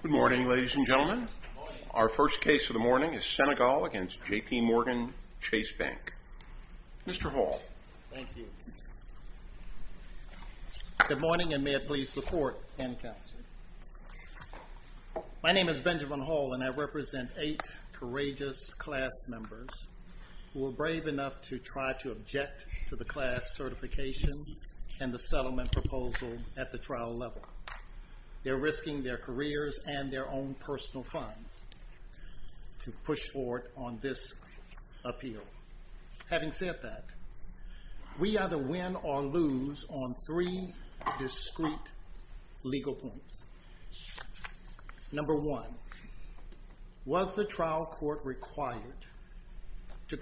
Good morning ladies and gentlemen. Our first case of the morning is Senegal against JPMorgan Chase Bank. Mr. Hall. Thank you. Good morning and may it please the court and counsel. My name is Benjamin Hall and I represent eight courageous class members who were brave enough to try to object to the class certification and the settlement proposal at the trial level. They're risking their careers and their own personal funds to push forward on this appeal. Having said that, we either win or lose on three discrete legal points. Number one, was the trial court required to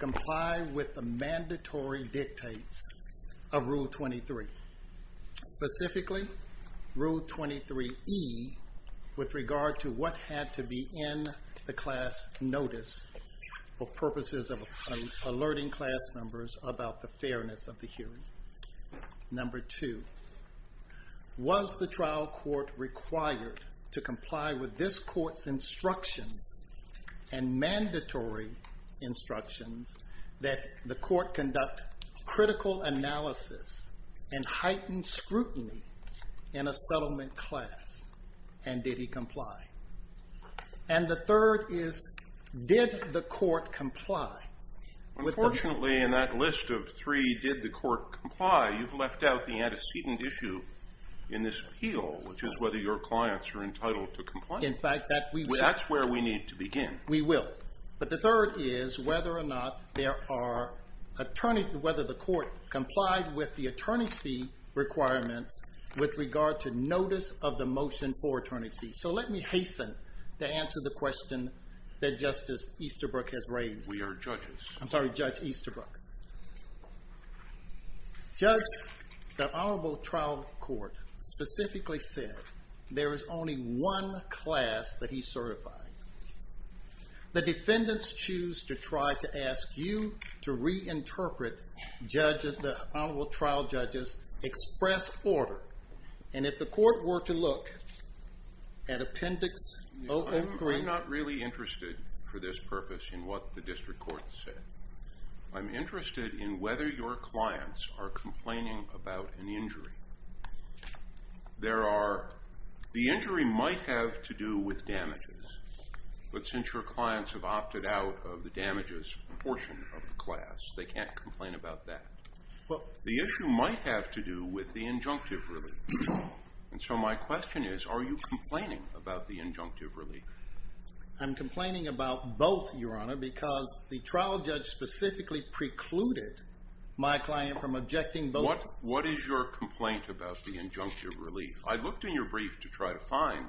comply with this court's instructions and mandatory instructions that the court conduct critical analysis and heightened scrutiny in a settlement class? And did he comply? And the third is, did the court comply? Unfortunately, in that list of three, did the court comply? You've left out the antecedent issue in this appeal, which is whether your clients are entitled to comply. In fact, that's where we need to begin. We will. But the third is whether or not there are, whether the court complied with the attorney's fee requirements with regard to notice of the motion for attorney's fees. So let me hasten to answer the question that Justice Easterbrook has raised. We are judges. I'm sorry, Judge Easterbrook. Judge, the honorable trial court specifically said there is only one class that he certified. The defendant's issues to try to ask you to reinterpret the honorable trial judge's express order. And if the court were to look at Appendix 003. I'm not really interested for this purpose in what the district court said. I'm interested in whether your clients are complaining about an injury. There are, the injury might have to do with damages. But since your clients have opted out of the damages portion of the class, they can't complain about that. Well, the issue might have to do with the injunctive relief. And so my question is, are you complaining about the injunctive relief? I'm complaining about both, your honor, because the trial judge specifically precluded my client from objecting both. What, what is your complaint about the injunctive relief? I looked in your brief to try to find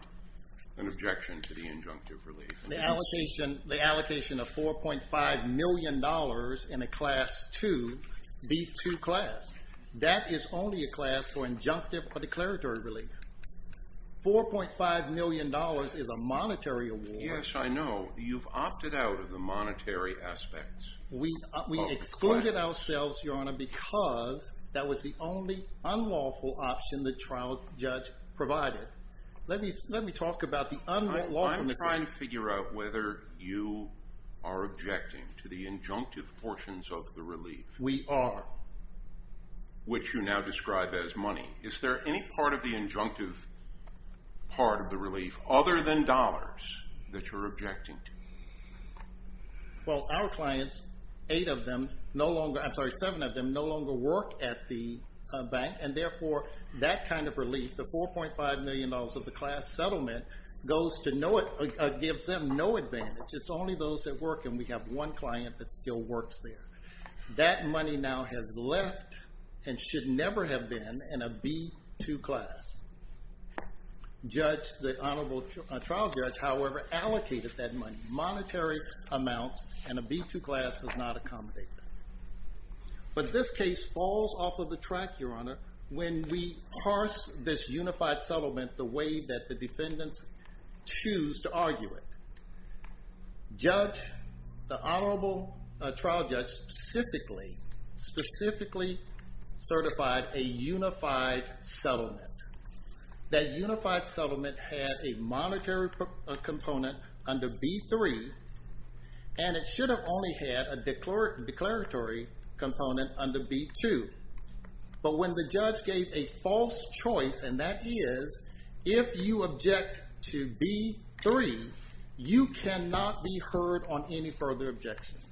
an objection to the injunctive relief. The allocation, the allocation of $4.5 million in a class 2, B2 class. That is only a class for injunctive or declaratory relief. $4.5 million is a monetary award. Yes, I know. You've opted out of the monetary aspects. We, we excluded ourselves, your honor, because that was the only unlawful option the trial judge provided. Let me, let me talk about the unlawful. I'm trying to figure out whether you are objecting to the injunctive portions of the relief. We are. Which you now describe as money. Is there any part of the injunctive part of the relief, other than dollars, that you're objecting to? Well, our clients, eight of them, no longer, I'm sorry, seven of them, no longer work at the bank. And therefore, that kind of relief, the $4.5 million of the class settlement, goes to no, gives them no advantage. It's only those that work, and we have one client that still works there. That money now has left, and should never have been, in a B2 class. Judge, the honorable trial judge, however, allocated that money, monetary amounts, and a B2 class does not accommodate that. But this case falls off of the track, your honor, when we parse this unified settlement, the way that the defendants choose to argue it. Judge, the honorable trial judge, specifically, specifically certified a unified settlement. That unified settlement had a monetary component under B3, and it should have only had a declaratory component under B2. But when the judge gave a false choice, and that is, if you object to B3, you cannot be heard on any further objections.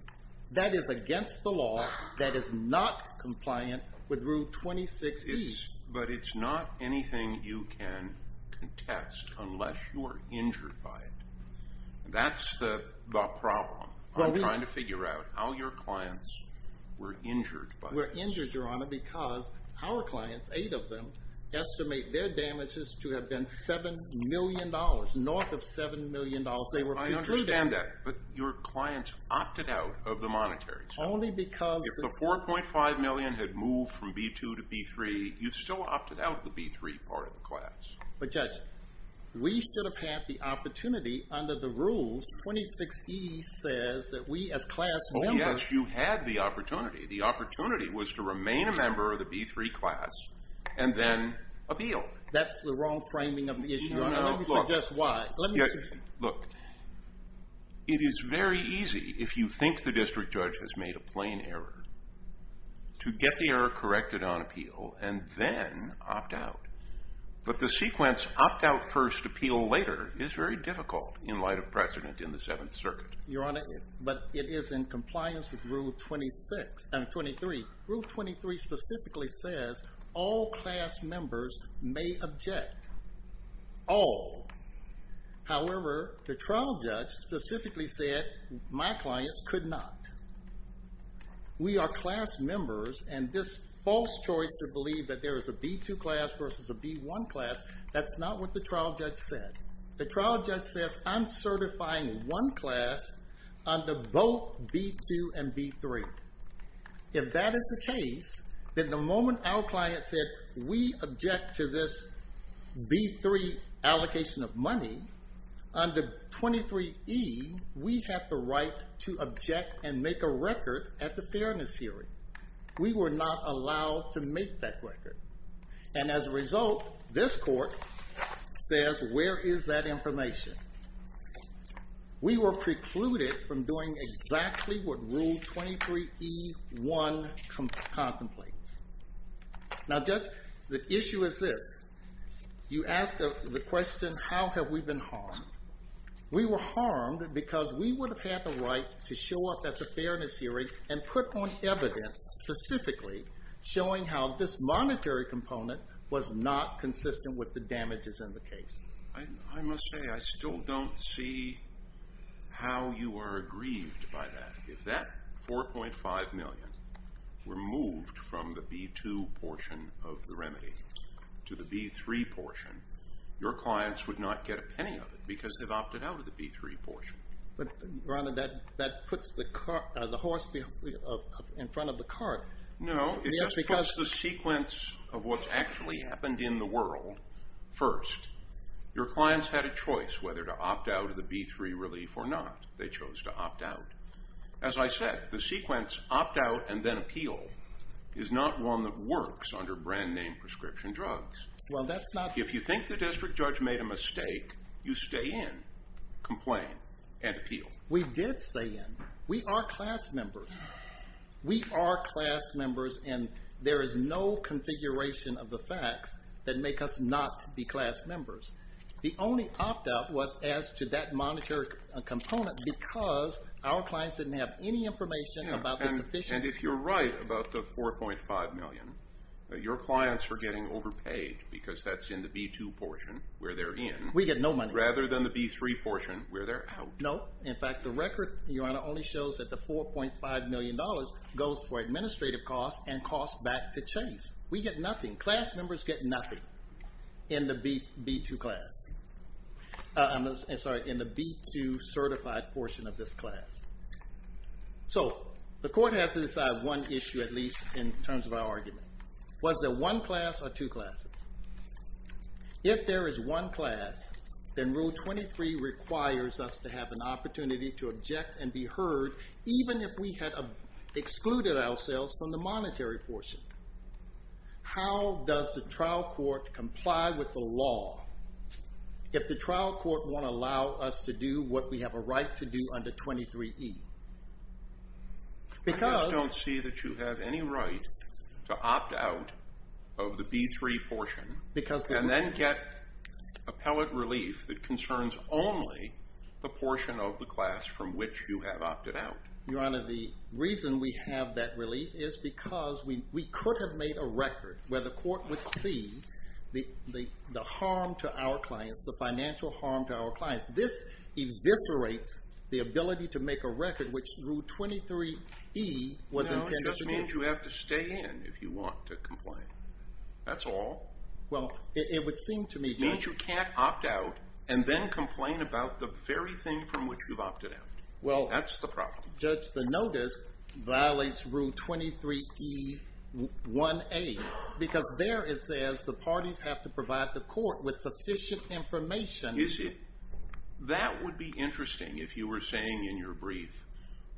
That is against the law, that is not compliant with Rule 26E. But it's not anything you can contest, unless you are injured by it. That's the problem. I'm trying to figure out how your clients were injured by this. We're injured, your honor, because our clients, eight of them, estimate their damages to have been $7 million, north of $7 million. They were included. I understand that, but your clients opted out of the monetary settlement. Only because... If the 4.5 million had moved from B2 to B3, you still opted out the B3 part of the class. But judge, we should have had the opportunity under the rules, 26E says that we, as class members... Oh, yes, you had the opportunity. The opportunity was to remain a member of the B3 class, and then appeal. That's the wrong framing of the issue. Let me suggest why. Let me... Look, it is very easy, if you think the district judge has made a plain error, to get the error corrected on appeal and then opt out. But the sequence, opt out first, appeal later, is very difficult in light of precedent in the Seventh Circuit. Your honor, but it is in compliance with Rule 26... No, 23. Rule 23 specifically says, all class members may object. All. However, the trial judge specifically said, my clients could not. We are class members, and this false choice to believe that there is a B2 class versus a B1 class, that's not what the trial judge said. The trial judge says, I'm certifying one class under both B2 and B3. If that is the case, then the moment our client said, we object to this B3 allocation of money, under 23E, we have the right to object and make a record at the fairness hearing. We were not allowed to make that record. And as a result, this court says, where is that information? We were precluded from doing exactly what Rule 23E1 contemplates. Now, judge, the issue is this. You asked the question, how have we been harmed? We were harmed because we would have had the right to show up at the fairness hearing and put on evidence specifically, showing how this monetary component was not consistent with the damages in the case. I must say, I still don't see how you are aggrieved by that. If that 4.5 million were moved from the B2 portion of the remedy to the B3 portion, your clients would not get a penny of it because they've opted out of the B3 portion. But Ronald, that puts the horse in front of the cart. No, it puts the sequence of what's actually happened in the world first. Your clients had a choice whether to opt out of the B3 relief or not. They chose to opt out. As I said, the sequence, opt out and then appeal, is not one that works under brand name prescription drugs. Well, that's not... If you think the district judge made a mistake, you stay in, complain, and appeal. We did stay in. We are class members. We are class members and there is no configuration of the facts that make us not be class members. The only opt out was as to that monetary component because our clients didn't have any information about the sufficiency. And if you're right about the 4.5 million, your clients are getting overpaid because that's in the B2 portion where they're in. We get no money. Rather than the B3 portion where they're out. No. In fact, the record, Your Honor, only shows that the $4.5 million goes for administrative costs and costs back to Chase. We get nothing. Class members get nothing in the B2 class. I'm sorry, in the B2 certified portion of this class. So the court has to decide one issue, at least in terms of our argument. Was there one class or two classes? If there is one class, then Rule 23 requires us to have an opportunity to object and be heard, even if we had excluded ourselves from the monetary portion. How does the trial court comply with the law if the trial court won't allow us to do what we have a right to do under 23E? Because... I just don't see that you have any right to opt out of the B3 portion... Because... And then get appellate relief that concerns only the portion of the class from which you have opted out. Your Honor, the reason we have that relief is because we could have made a record where the court would see the harm to our clients, the financial harm to our clients. This eviscerates the ability to make a record which Rule 23E was intended to do. It just means you have to stay in if you want to complain. That's all. Well, it would seem to me... It means you can't opt out and then complain about the very thing from which you've opted out. Well... That's the problem. Judge, the notice violates Rule 23E1A because there it says the parties have to provide the court with sufficient information... Is it? That would be interesting if you were saying in your brief,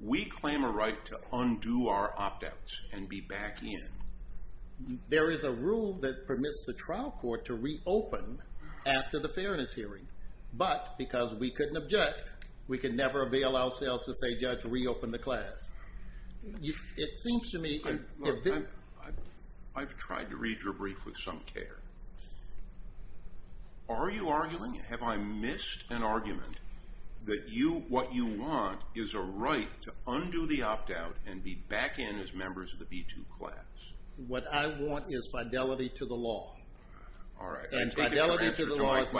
we claim a right to undo our opt outs and be back in. There is a rule that permits the trial court to reopen after the fairness hearing, but because we couldn't object, we could never avail ourselves to say, Judge, reopen the class. It seems to me... I've tried to read your brief with some care. Are you arguing... Have I missed an argument that what you want is a right to undo the opt out and be back in as members of the B2 class? What I want is fidelity to the law. All right. And fidelity to the law is...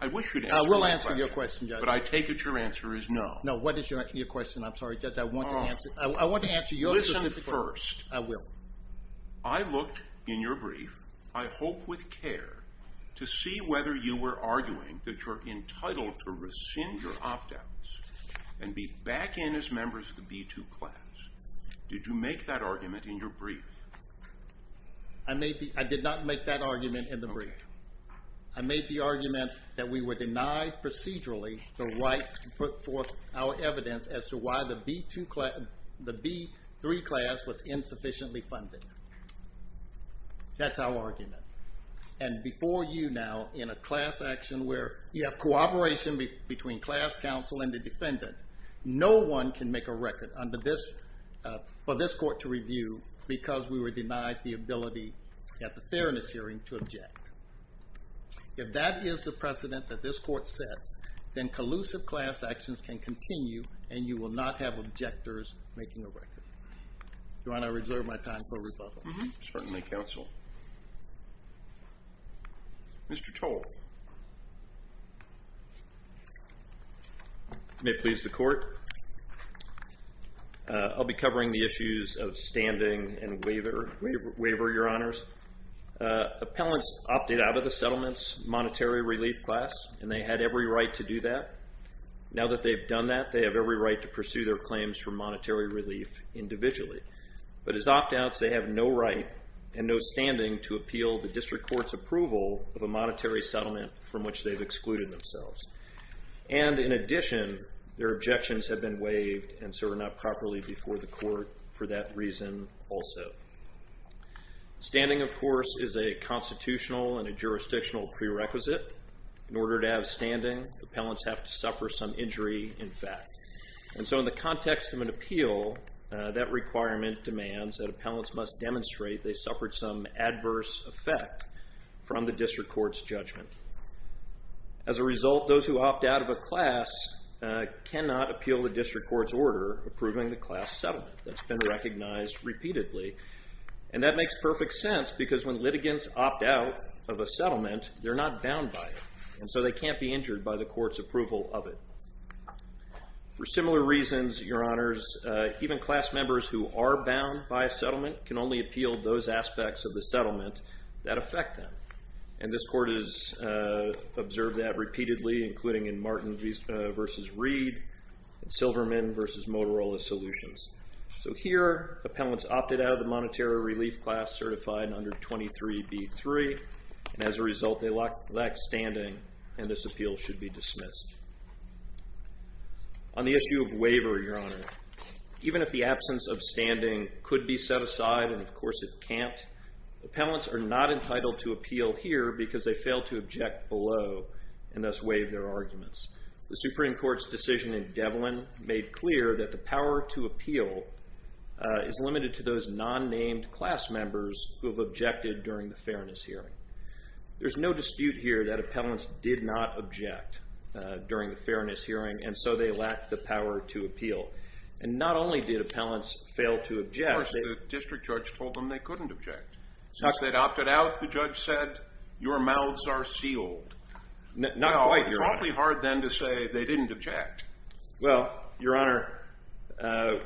I wish you'd answer my question. I will answer your question, Judge. But I take it your answer is no. No, what is your question? I'm sorry, Judge, I want to answer... I want to answer your specific question. Listen first. I will. I looked in your brief, I hope with care, to see whether you were arguing that you're entitled to rescind your opt outs and be back in as members of the B2 class. Did you make that argument in your brief? I did not make that argument in the brief. Okay. I made the argument that we were denied procedurally the right to put forth our evidence as to why the B2 class... The B3 class was insufficiently funded. That's our argument. And before you now, in a class action where you have cooperation between class counsel and the defendant, no one can make a record for this court to review because we were denied the ability at the fairness hearing to object. If that is the precedent that this court sets, then collusive class actions can continue and you will not have objectors making a record. Do you want to reserve my time for rebuttal? Certainly, counsel. Mr. Toll. May it please the court. I'll be covering the issues of standing and waiver, your honors. Appellants opted out of the settlements monetary relief class and they had every right to do that. Now that they've done that, they have every right to pursue their claims for monetary relief individually. But as opt outs, they have no right and no standing to appeal the district court's approval of a monetary settlement from which they've excluded themselves. And in addition, their objections have been waived and so are not properly before the court for that reason also. Standing, of course, is a constitutional and a jurisdictional prerequisite. In order to have standing, appellants have to suffer some injury, in fact. And so in the context of an appeal, that requirement demands that appellants must demonstrate they suffered some adverse effect from the district court's judgment. As a result, those who opt out of a class cannot appeal the district court's order approving the class settlement that's been recognized repeatedly. And that makes perfect sense because when litigants opt out of a settlement, they're not bound by it. And so they can't be injured by the court's approval of it. For similar reasons, your honors, even class members who are bound by a settlement can only appeal those aspects of the settlement that affect them. And this court has observed that repeatedly, including in Martin vs. Reed, and Silverman vs. Motorola Solutions. So here, appellants opted out of the monetary relief class certified under 23B3. And as a result, they lack standing, and this appeal should be dismissed. On the issue of waiver, your honor, even if the absence of standing could be set aside, and of course it can't, appellants are not entitled to appeal here because they fail to object below, and thus waive their arguments. The Supreme Court's decision in Devlin made clear that the power to appeal is limited to those non-named class members who've objected during the fairness hearing. There's no dispute here that appellants did not object during the fairness hearing, and so they lack the power to appeal. And not only did appellants fail to object... Of course, the district judge told them they couldn't object. Since they'd opted out, the judge said, your mouths are sealed. Not quite, your honor. It's awfully hard then to say they didn't object. Well, your honor,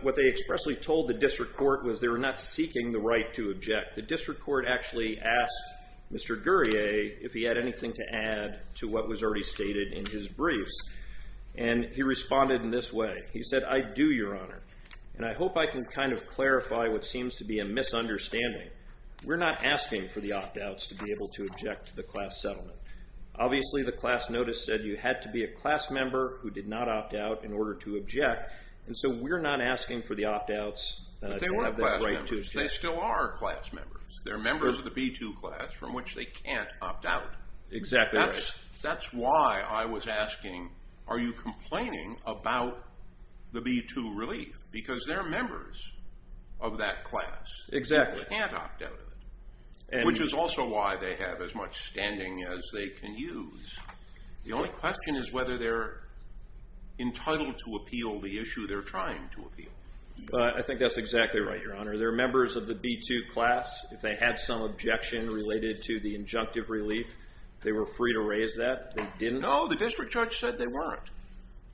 what they expressly told the district court was they were not able to object. The district court explicitly asked Mr. Guerrier if he had anything to add to what was already stated in his briefs, and he responded in this way. He said, I do, your honor, and I hope I can kind of clarify what seems to be a misunderstanding. We're not asking for the opt outs to be able to object to the class settlement. Obviously, the class notice said you had to be a class member who did not opt out in order to object, and so we're not asking for the opt outs to have the right to object. But they were class members. They still are class members. They're members of the B2 class from which they can't opt out. Exactly right. That's why I was asking, are you complaining about the B2 relief? Because they're members of that class. Exactly. They can't opt out of it, which is also why they have as much standing as they can use. The only question is whether they're entitled to appeal the issue they're trying to appeal. I think that's exactly right, your honor. They're members of the B2 class. If they had some objection related to the injunctive relief, they were free to raise that. They didn't. No, the district judge said they weren't.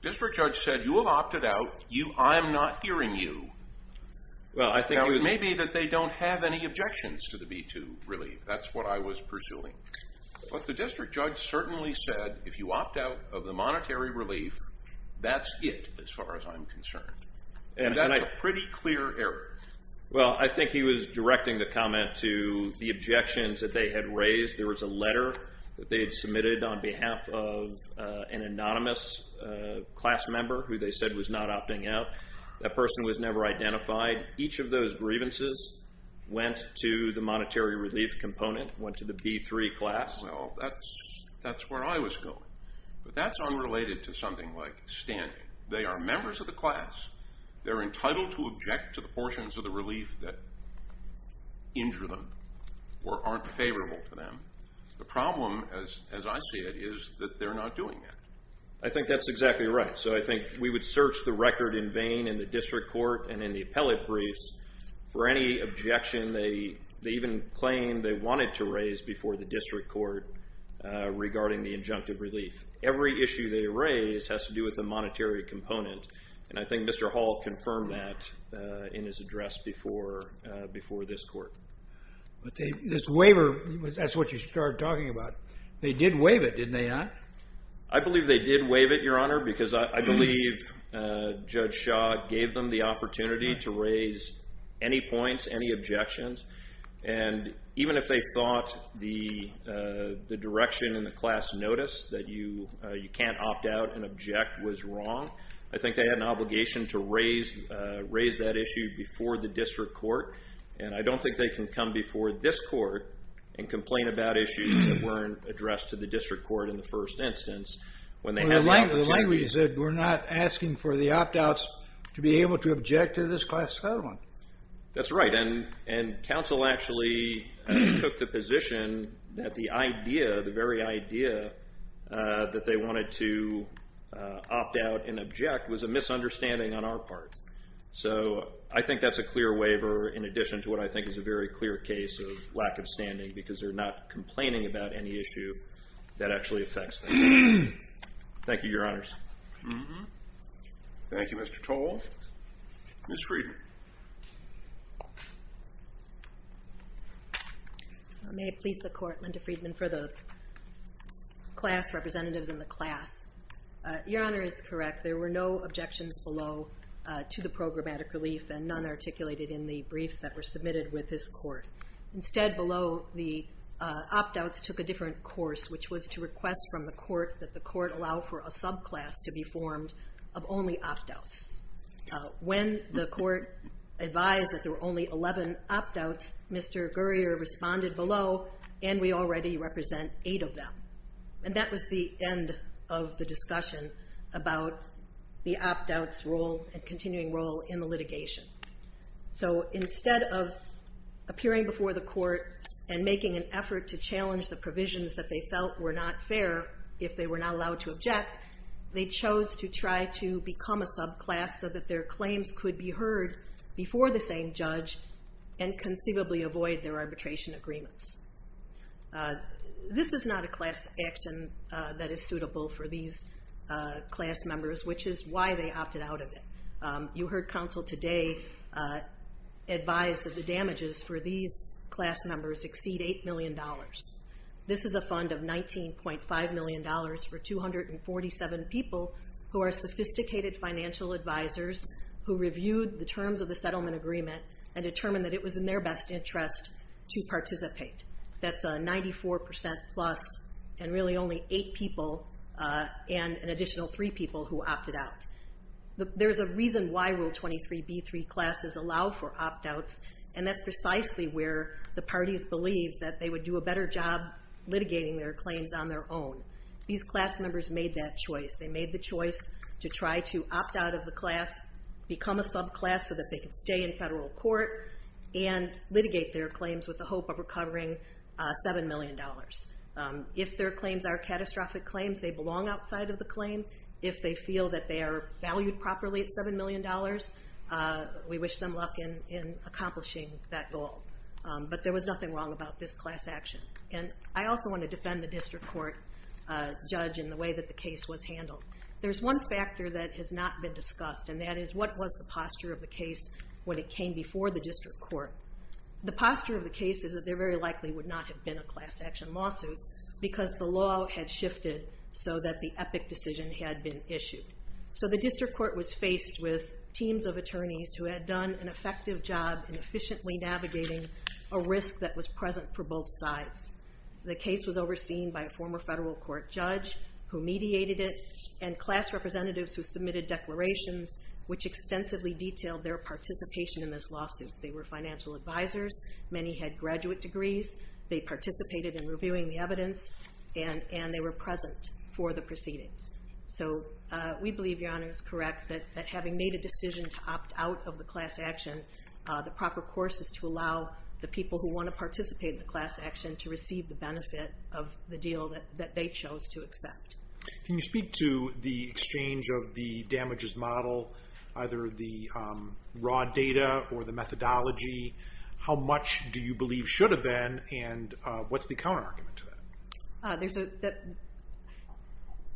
District judge said, you have opted out. I'm not hearing you. Well, I think he was... Now, it may be that they don't have any objections to the B2 relief. That's what I was pursuing. But the district judge certainly said, if you opt out of the monetary relief, that's it as far as I'm concerned. And that's a pretty clear error. Well, I think he was directing the comment to the objections that they had raised. There was a letter that they had submitted on behalf of an anonymous class member who they said was not opting out. That person was never identified. Each of those grievances went to the monetary relief component, went to the B3 class. Well, that's where I was going. But that's unrelated to something like standing. They are members of the class. They're entitled to object to the portions of the relief that injure them or aren't favorable to them. The problem, as I see it, is that they're not doing that. I think that's exactly right. So I think we would search the record in vain in the district court and in the appellate briefs for any objection they even claimed they wanted to raise before the district court regarding the injunctive relief. Every issue they raise has to do with the monetary component. And I think Mr. Hall confirmed that in his address before this court. But this waiver, that's what you started talking about. They did waive it, didn't they not? I believe they did waive it, Your Honor, because I believe Judge Shaw gave them the opportunity to raise any points, any objections. And even if they thought the was wrong, I think they had an obligation to raise that issue before the district court. And I don't think they can come before this court and complain about issues that weren't addressed to the district court in the first instance when they had the opportunity. The language you said, we're not asking for the opt outs to be able to object to this class settlement. That's right. And counsel actually took the position that the idea, the very idea that they wanted to opt out and object was a misunderstanding on our part. So I think that's a clear waiver in addition to what I think is a very clear case of lack of standing because they're not complaining about any issue that actually affects them. Thank you, Your Honors. Thank you, Mr. Toll. Ms. Friedman. May it please the court, Linda Friedman, for the class representatives in the class. Your Honor is correct. There were no objections below to the programmatic relief and none articulated in the briefs that were submitted with this court. Instead below, the opt outs took a different course, which was to request from the court that the court allow for a subclass to be advised that there were only 11 opt outs. Mr. Gurrier responded below and we already represent eight of them. And that was the end of the discussion about the opt outs role and continuing role in the litigation. So instead of appearing before the court and making an effort to challenge the provisions that they felt were not fair if they were not allowed to object, they chose to try to become a subclass so that their before the same judge and conceivably avoid their arbitration agreements. This is not a class action that is suitable for these class members, which is why they opted out of it. You heard counsel today advise that the damages for these class members exceed $8 million. This is a fund of $19.5 million for 247 people who are sophisticated financial advisors who reviewed the terms of the settlement agreement and determined that it was in their best interest to participate. That's 94% plus and really only eight people and an additional three people who opted out. There's a reason why Rule 23b3 classes allow for opt outs and that's precisely where the parties believed that they would do a better job litigating their claims on their own. These class members made that class become a subclass so that they could stay in federal court and litigate their claims with the hope of recovering $7 million. If their claims are catastrophic claims, they belong outside of the claim. If they feel that they are valued properly at $7 million, we wish them luck in accomplishing that goal. But there was nothing wrong about this class action. And I also wanna defend the district court judge in the way that the case was handled. There's one factor that has not been discussed and that is what was the posture of the case when it came before the district court? The posture of the case is that there very likely would not have been a class action lawsuit because the law had shifted so that the epic decision had been issued. So the district court was faced with teams of attorneys who had done an effective job in efficiently navigating a risk that was present for both sides. The case was overseen by a former federal court judge who mediated it and class representatives who submitted declarations which extensively detailed their participation in this lawsuit. They were financial advisors, many had graduate degrees, they participated in reviewing the evidence, and they were present for the proceedings. So we believe Your Honor is correct that having made a decision to opt out of the class action, the proper course is to allow the people who wanna participate in the class action to receive the benefit of the deal that they chose to accept. Can you speak to the exchange of the damages model, either the raw data or the methodology? How much do you believe should have been and what's the counter argument to that? There's a...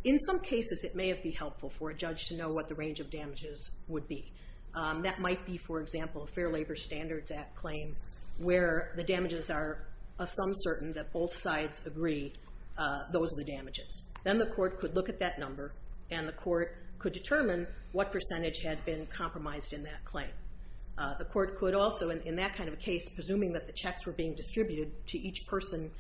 In some cases, it may have be helpful for a judge to know what the range of damages would be. That might be, for example, a Fair Labor Standards Act claim where the both sides agree those are the damages. Then the court could look at that number and the court could determine what percentage had been compromised in that claim. The court could also, in that kind of a case, presuming that the checks were being distributed to each person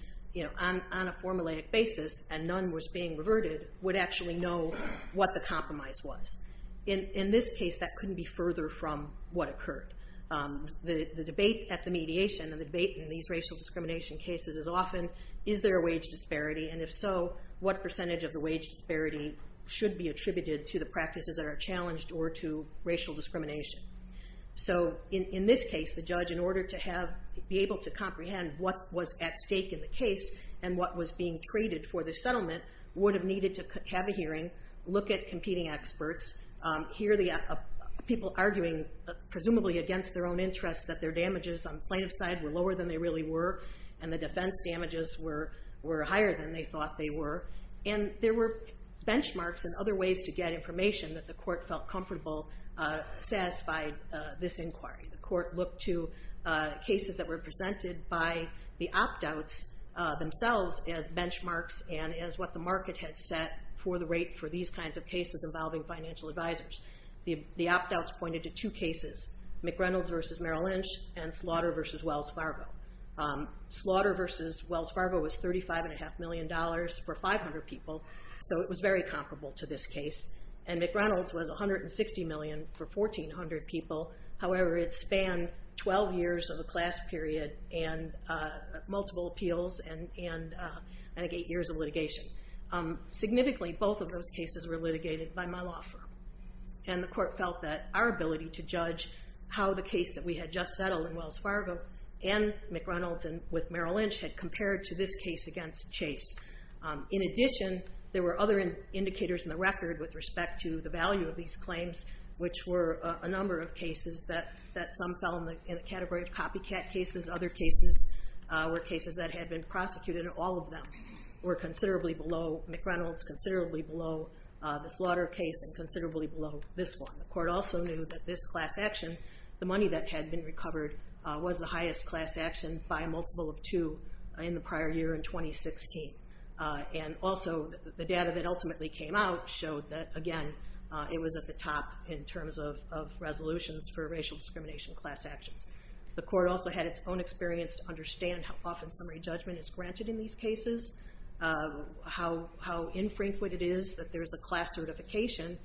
on a formulaic basis and none was being reverted, would actually know what the compromise was. In this case, that couldn't be further from what occurred. The debate at the mediation and the debate in these racial discrimination cases is often, is there a wage disparity? And if so, what percentage of the wage disparity should be attributed to the practices that are challenged or to racial discrimination? So in this case, the judge, in order to be able to comprehend what was at stake in the case and what was being traded for the settlement, would have needed to have a hearing, look at competing experts, hear the people arguing, presumably against their own interests, that their defense damages were higher than they thought they were, and there were benchmarks and other ways to get information that the court felt comfortable satisfied this inquiry. The court looked to cases that were presented by the opt outs themselves as benchmarks and as what the market had set for the rate for these kinds of cases involving financial advisors. The opt outs pointed to two cases, McReynolds versus Merrill Lynch and Slaughter versus Wells Fargo. Slaughter versus Wells Fargo was $35.5 million for 500 people, so it was very comparable to this case. And McReynolds was $160 million for 1,400 people. However, it spanned 12 years of a class period and multiple appeals and I think eight years of litigation. Significantly, both of those cases were litigated by my law firm. And the court felt that our ability to judge how the case that we had just settled in Wells Fargo and McReynolds with Merrill Lynch had compared to this case against Chase. In addition, there were other indicators in the record with respect to the value of these claims, which were a number of cases that some fell in the category of copycat cases. Other cases were cases that had been prosecuted and all of them were considerably below McReynolds, considerably below the Slaughter case, and considerably below this one. The court also knew that this class action, the money that had been recovered, was the highest class action by a multiple of two in the prior year in 2016. And also, the data that ultimately came out showed that, again, it was at the top in terms of resolutions for racial discrimination class actions. The court also had its own experience to understand how often summary judgment is granted in these cases, how infrequent it is that there's a class certification,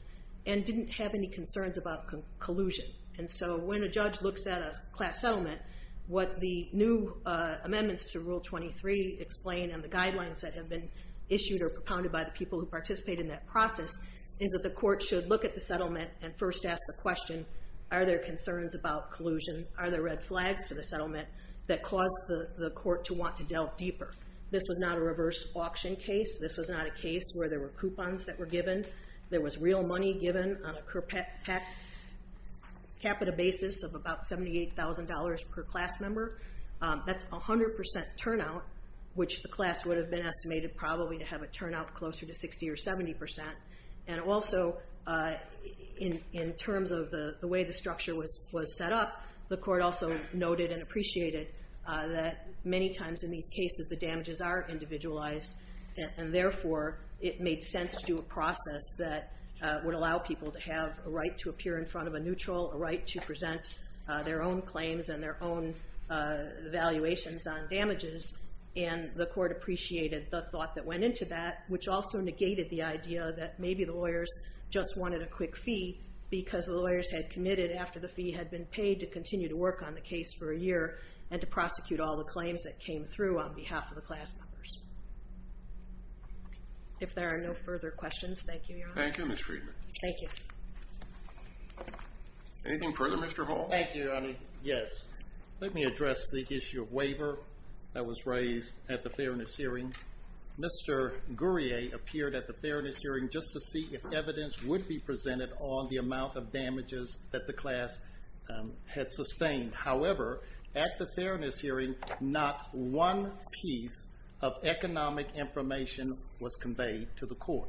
and didn't have any concerns about collusion. And so when a judge looks at a class settlement, what the new amendments to Rule 23 explain and the guidelines that have been issued or propounded by the people who participate in that process, is that the court should look at the settlement and first ask the question, are there concerns about collusion? Are there red flags to the court to delve deeper? This was not a reverse auction case. This was not a case where there were coupons that were given. There was real money given on a per capita basis of about $78,000 per class member. That's 100% turnout, which the class would have been estimated probably to have a turnout closer to 60% or 70%. And also, in terms of the way the structure was set up, the court also noted and appreciated that many times in these cases, the damages are individualized, and therefore, it made sense to do a process that would allow people to have a right to appear in front of a neutral, a right to present their own claims and their own valuations on damages. And the court appreciated the thought that went into that, which also negated the idea that maybe the lawyers just wanted a quick fee because the lawyers had committed after the fee had been paid to continue to work on the case for a year and to prosecute all the claims that came through on behalf of the class members. If there are no further questions, thank you, Your Honor. Thank you, Ms. Friedman. Thank you. Anything further, Mr. Hall? Thank you, Your Honor. Yes. Let me address the issue of waiver that was raised at the fairness hearing. Mr. Gourier appeared at the fairness hearing just to see if evidence would be presented on the claims that he had sustained. However, at the fairness hearing, not one piece of economic information was conveyed to the court.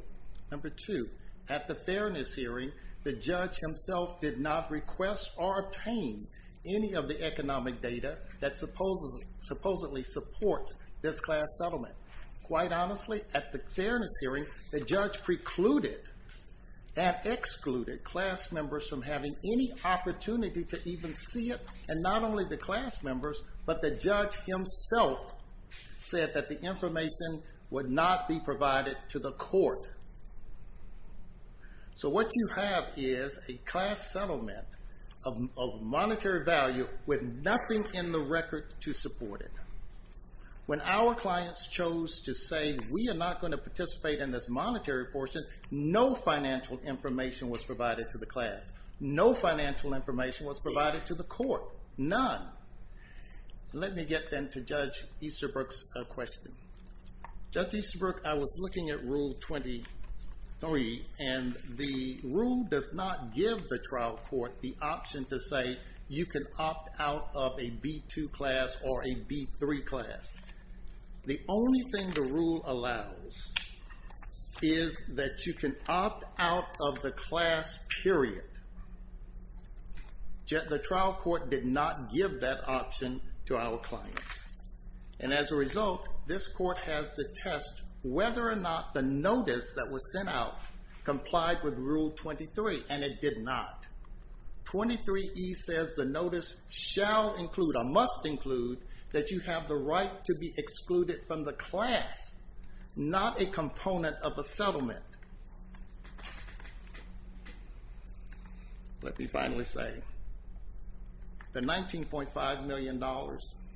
Number two, at the fairness hearing, the judge himself did not request or obtain any of the economic data that supposedly supports this class settlement. Quite honestly, at the fairness hearing, the judge precluded and excluded class members from having any opportunity to even see it, and not only the class members, but the judge himself said that the information would not be provided to the court. So what you have is a class settlement of monetary value with nothing in the record to support it. When our clients chose to say, we are not gonna participate in this monetary portion, no financial information was provided to the class. No financial information was provided to the court. None. Let me get then to Judge Easterbrook's question. Judge Easterbrook, I was looking at Rule 23, and the rule does not give the trial court the option to say, you can opt out of a B2 class or a B3 class. The only thing the rule allows is that you can opt out of the class period. The trial court did not give that option to our clients. And as a result, this court has to test whether or not the notice that was sent out complied with Rule 23, and it did not. 23E says the notice shall include, or must include, that you have the right to be excluded from the class, not a component of a settlement. Let me finally say, the $19.5 million,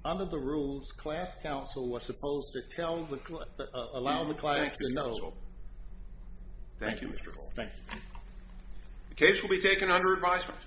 under the rules, class counsel was supposed to allow the class to know. Thank you, counsel. Thank you, Mr. Hall. Thank you. The case will be taken under advisement.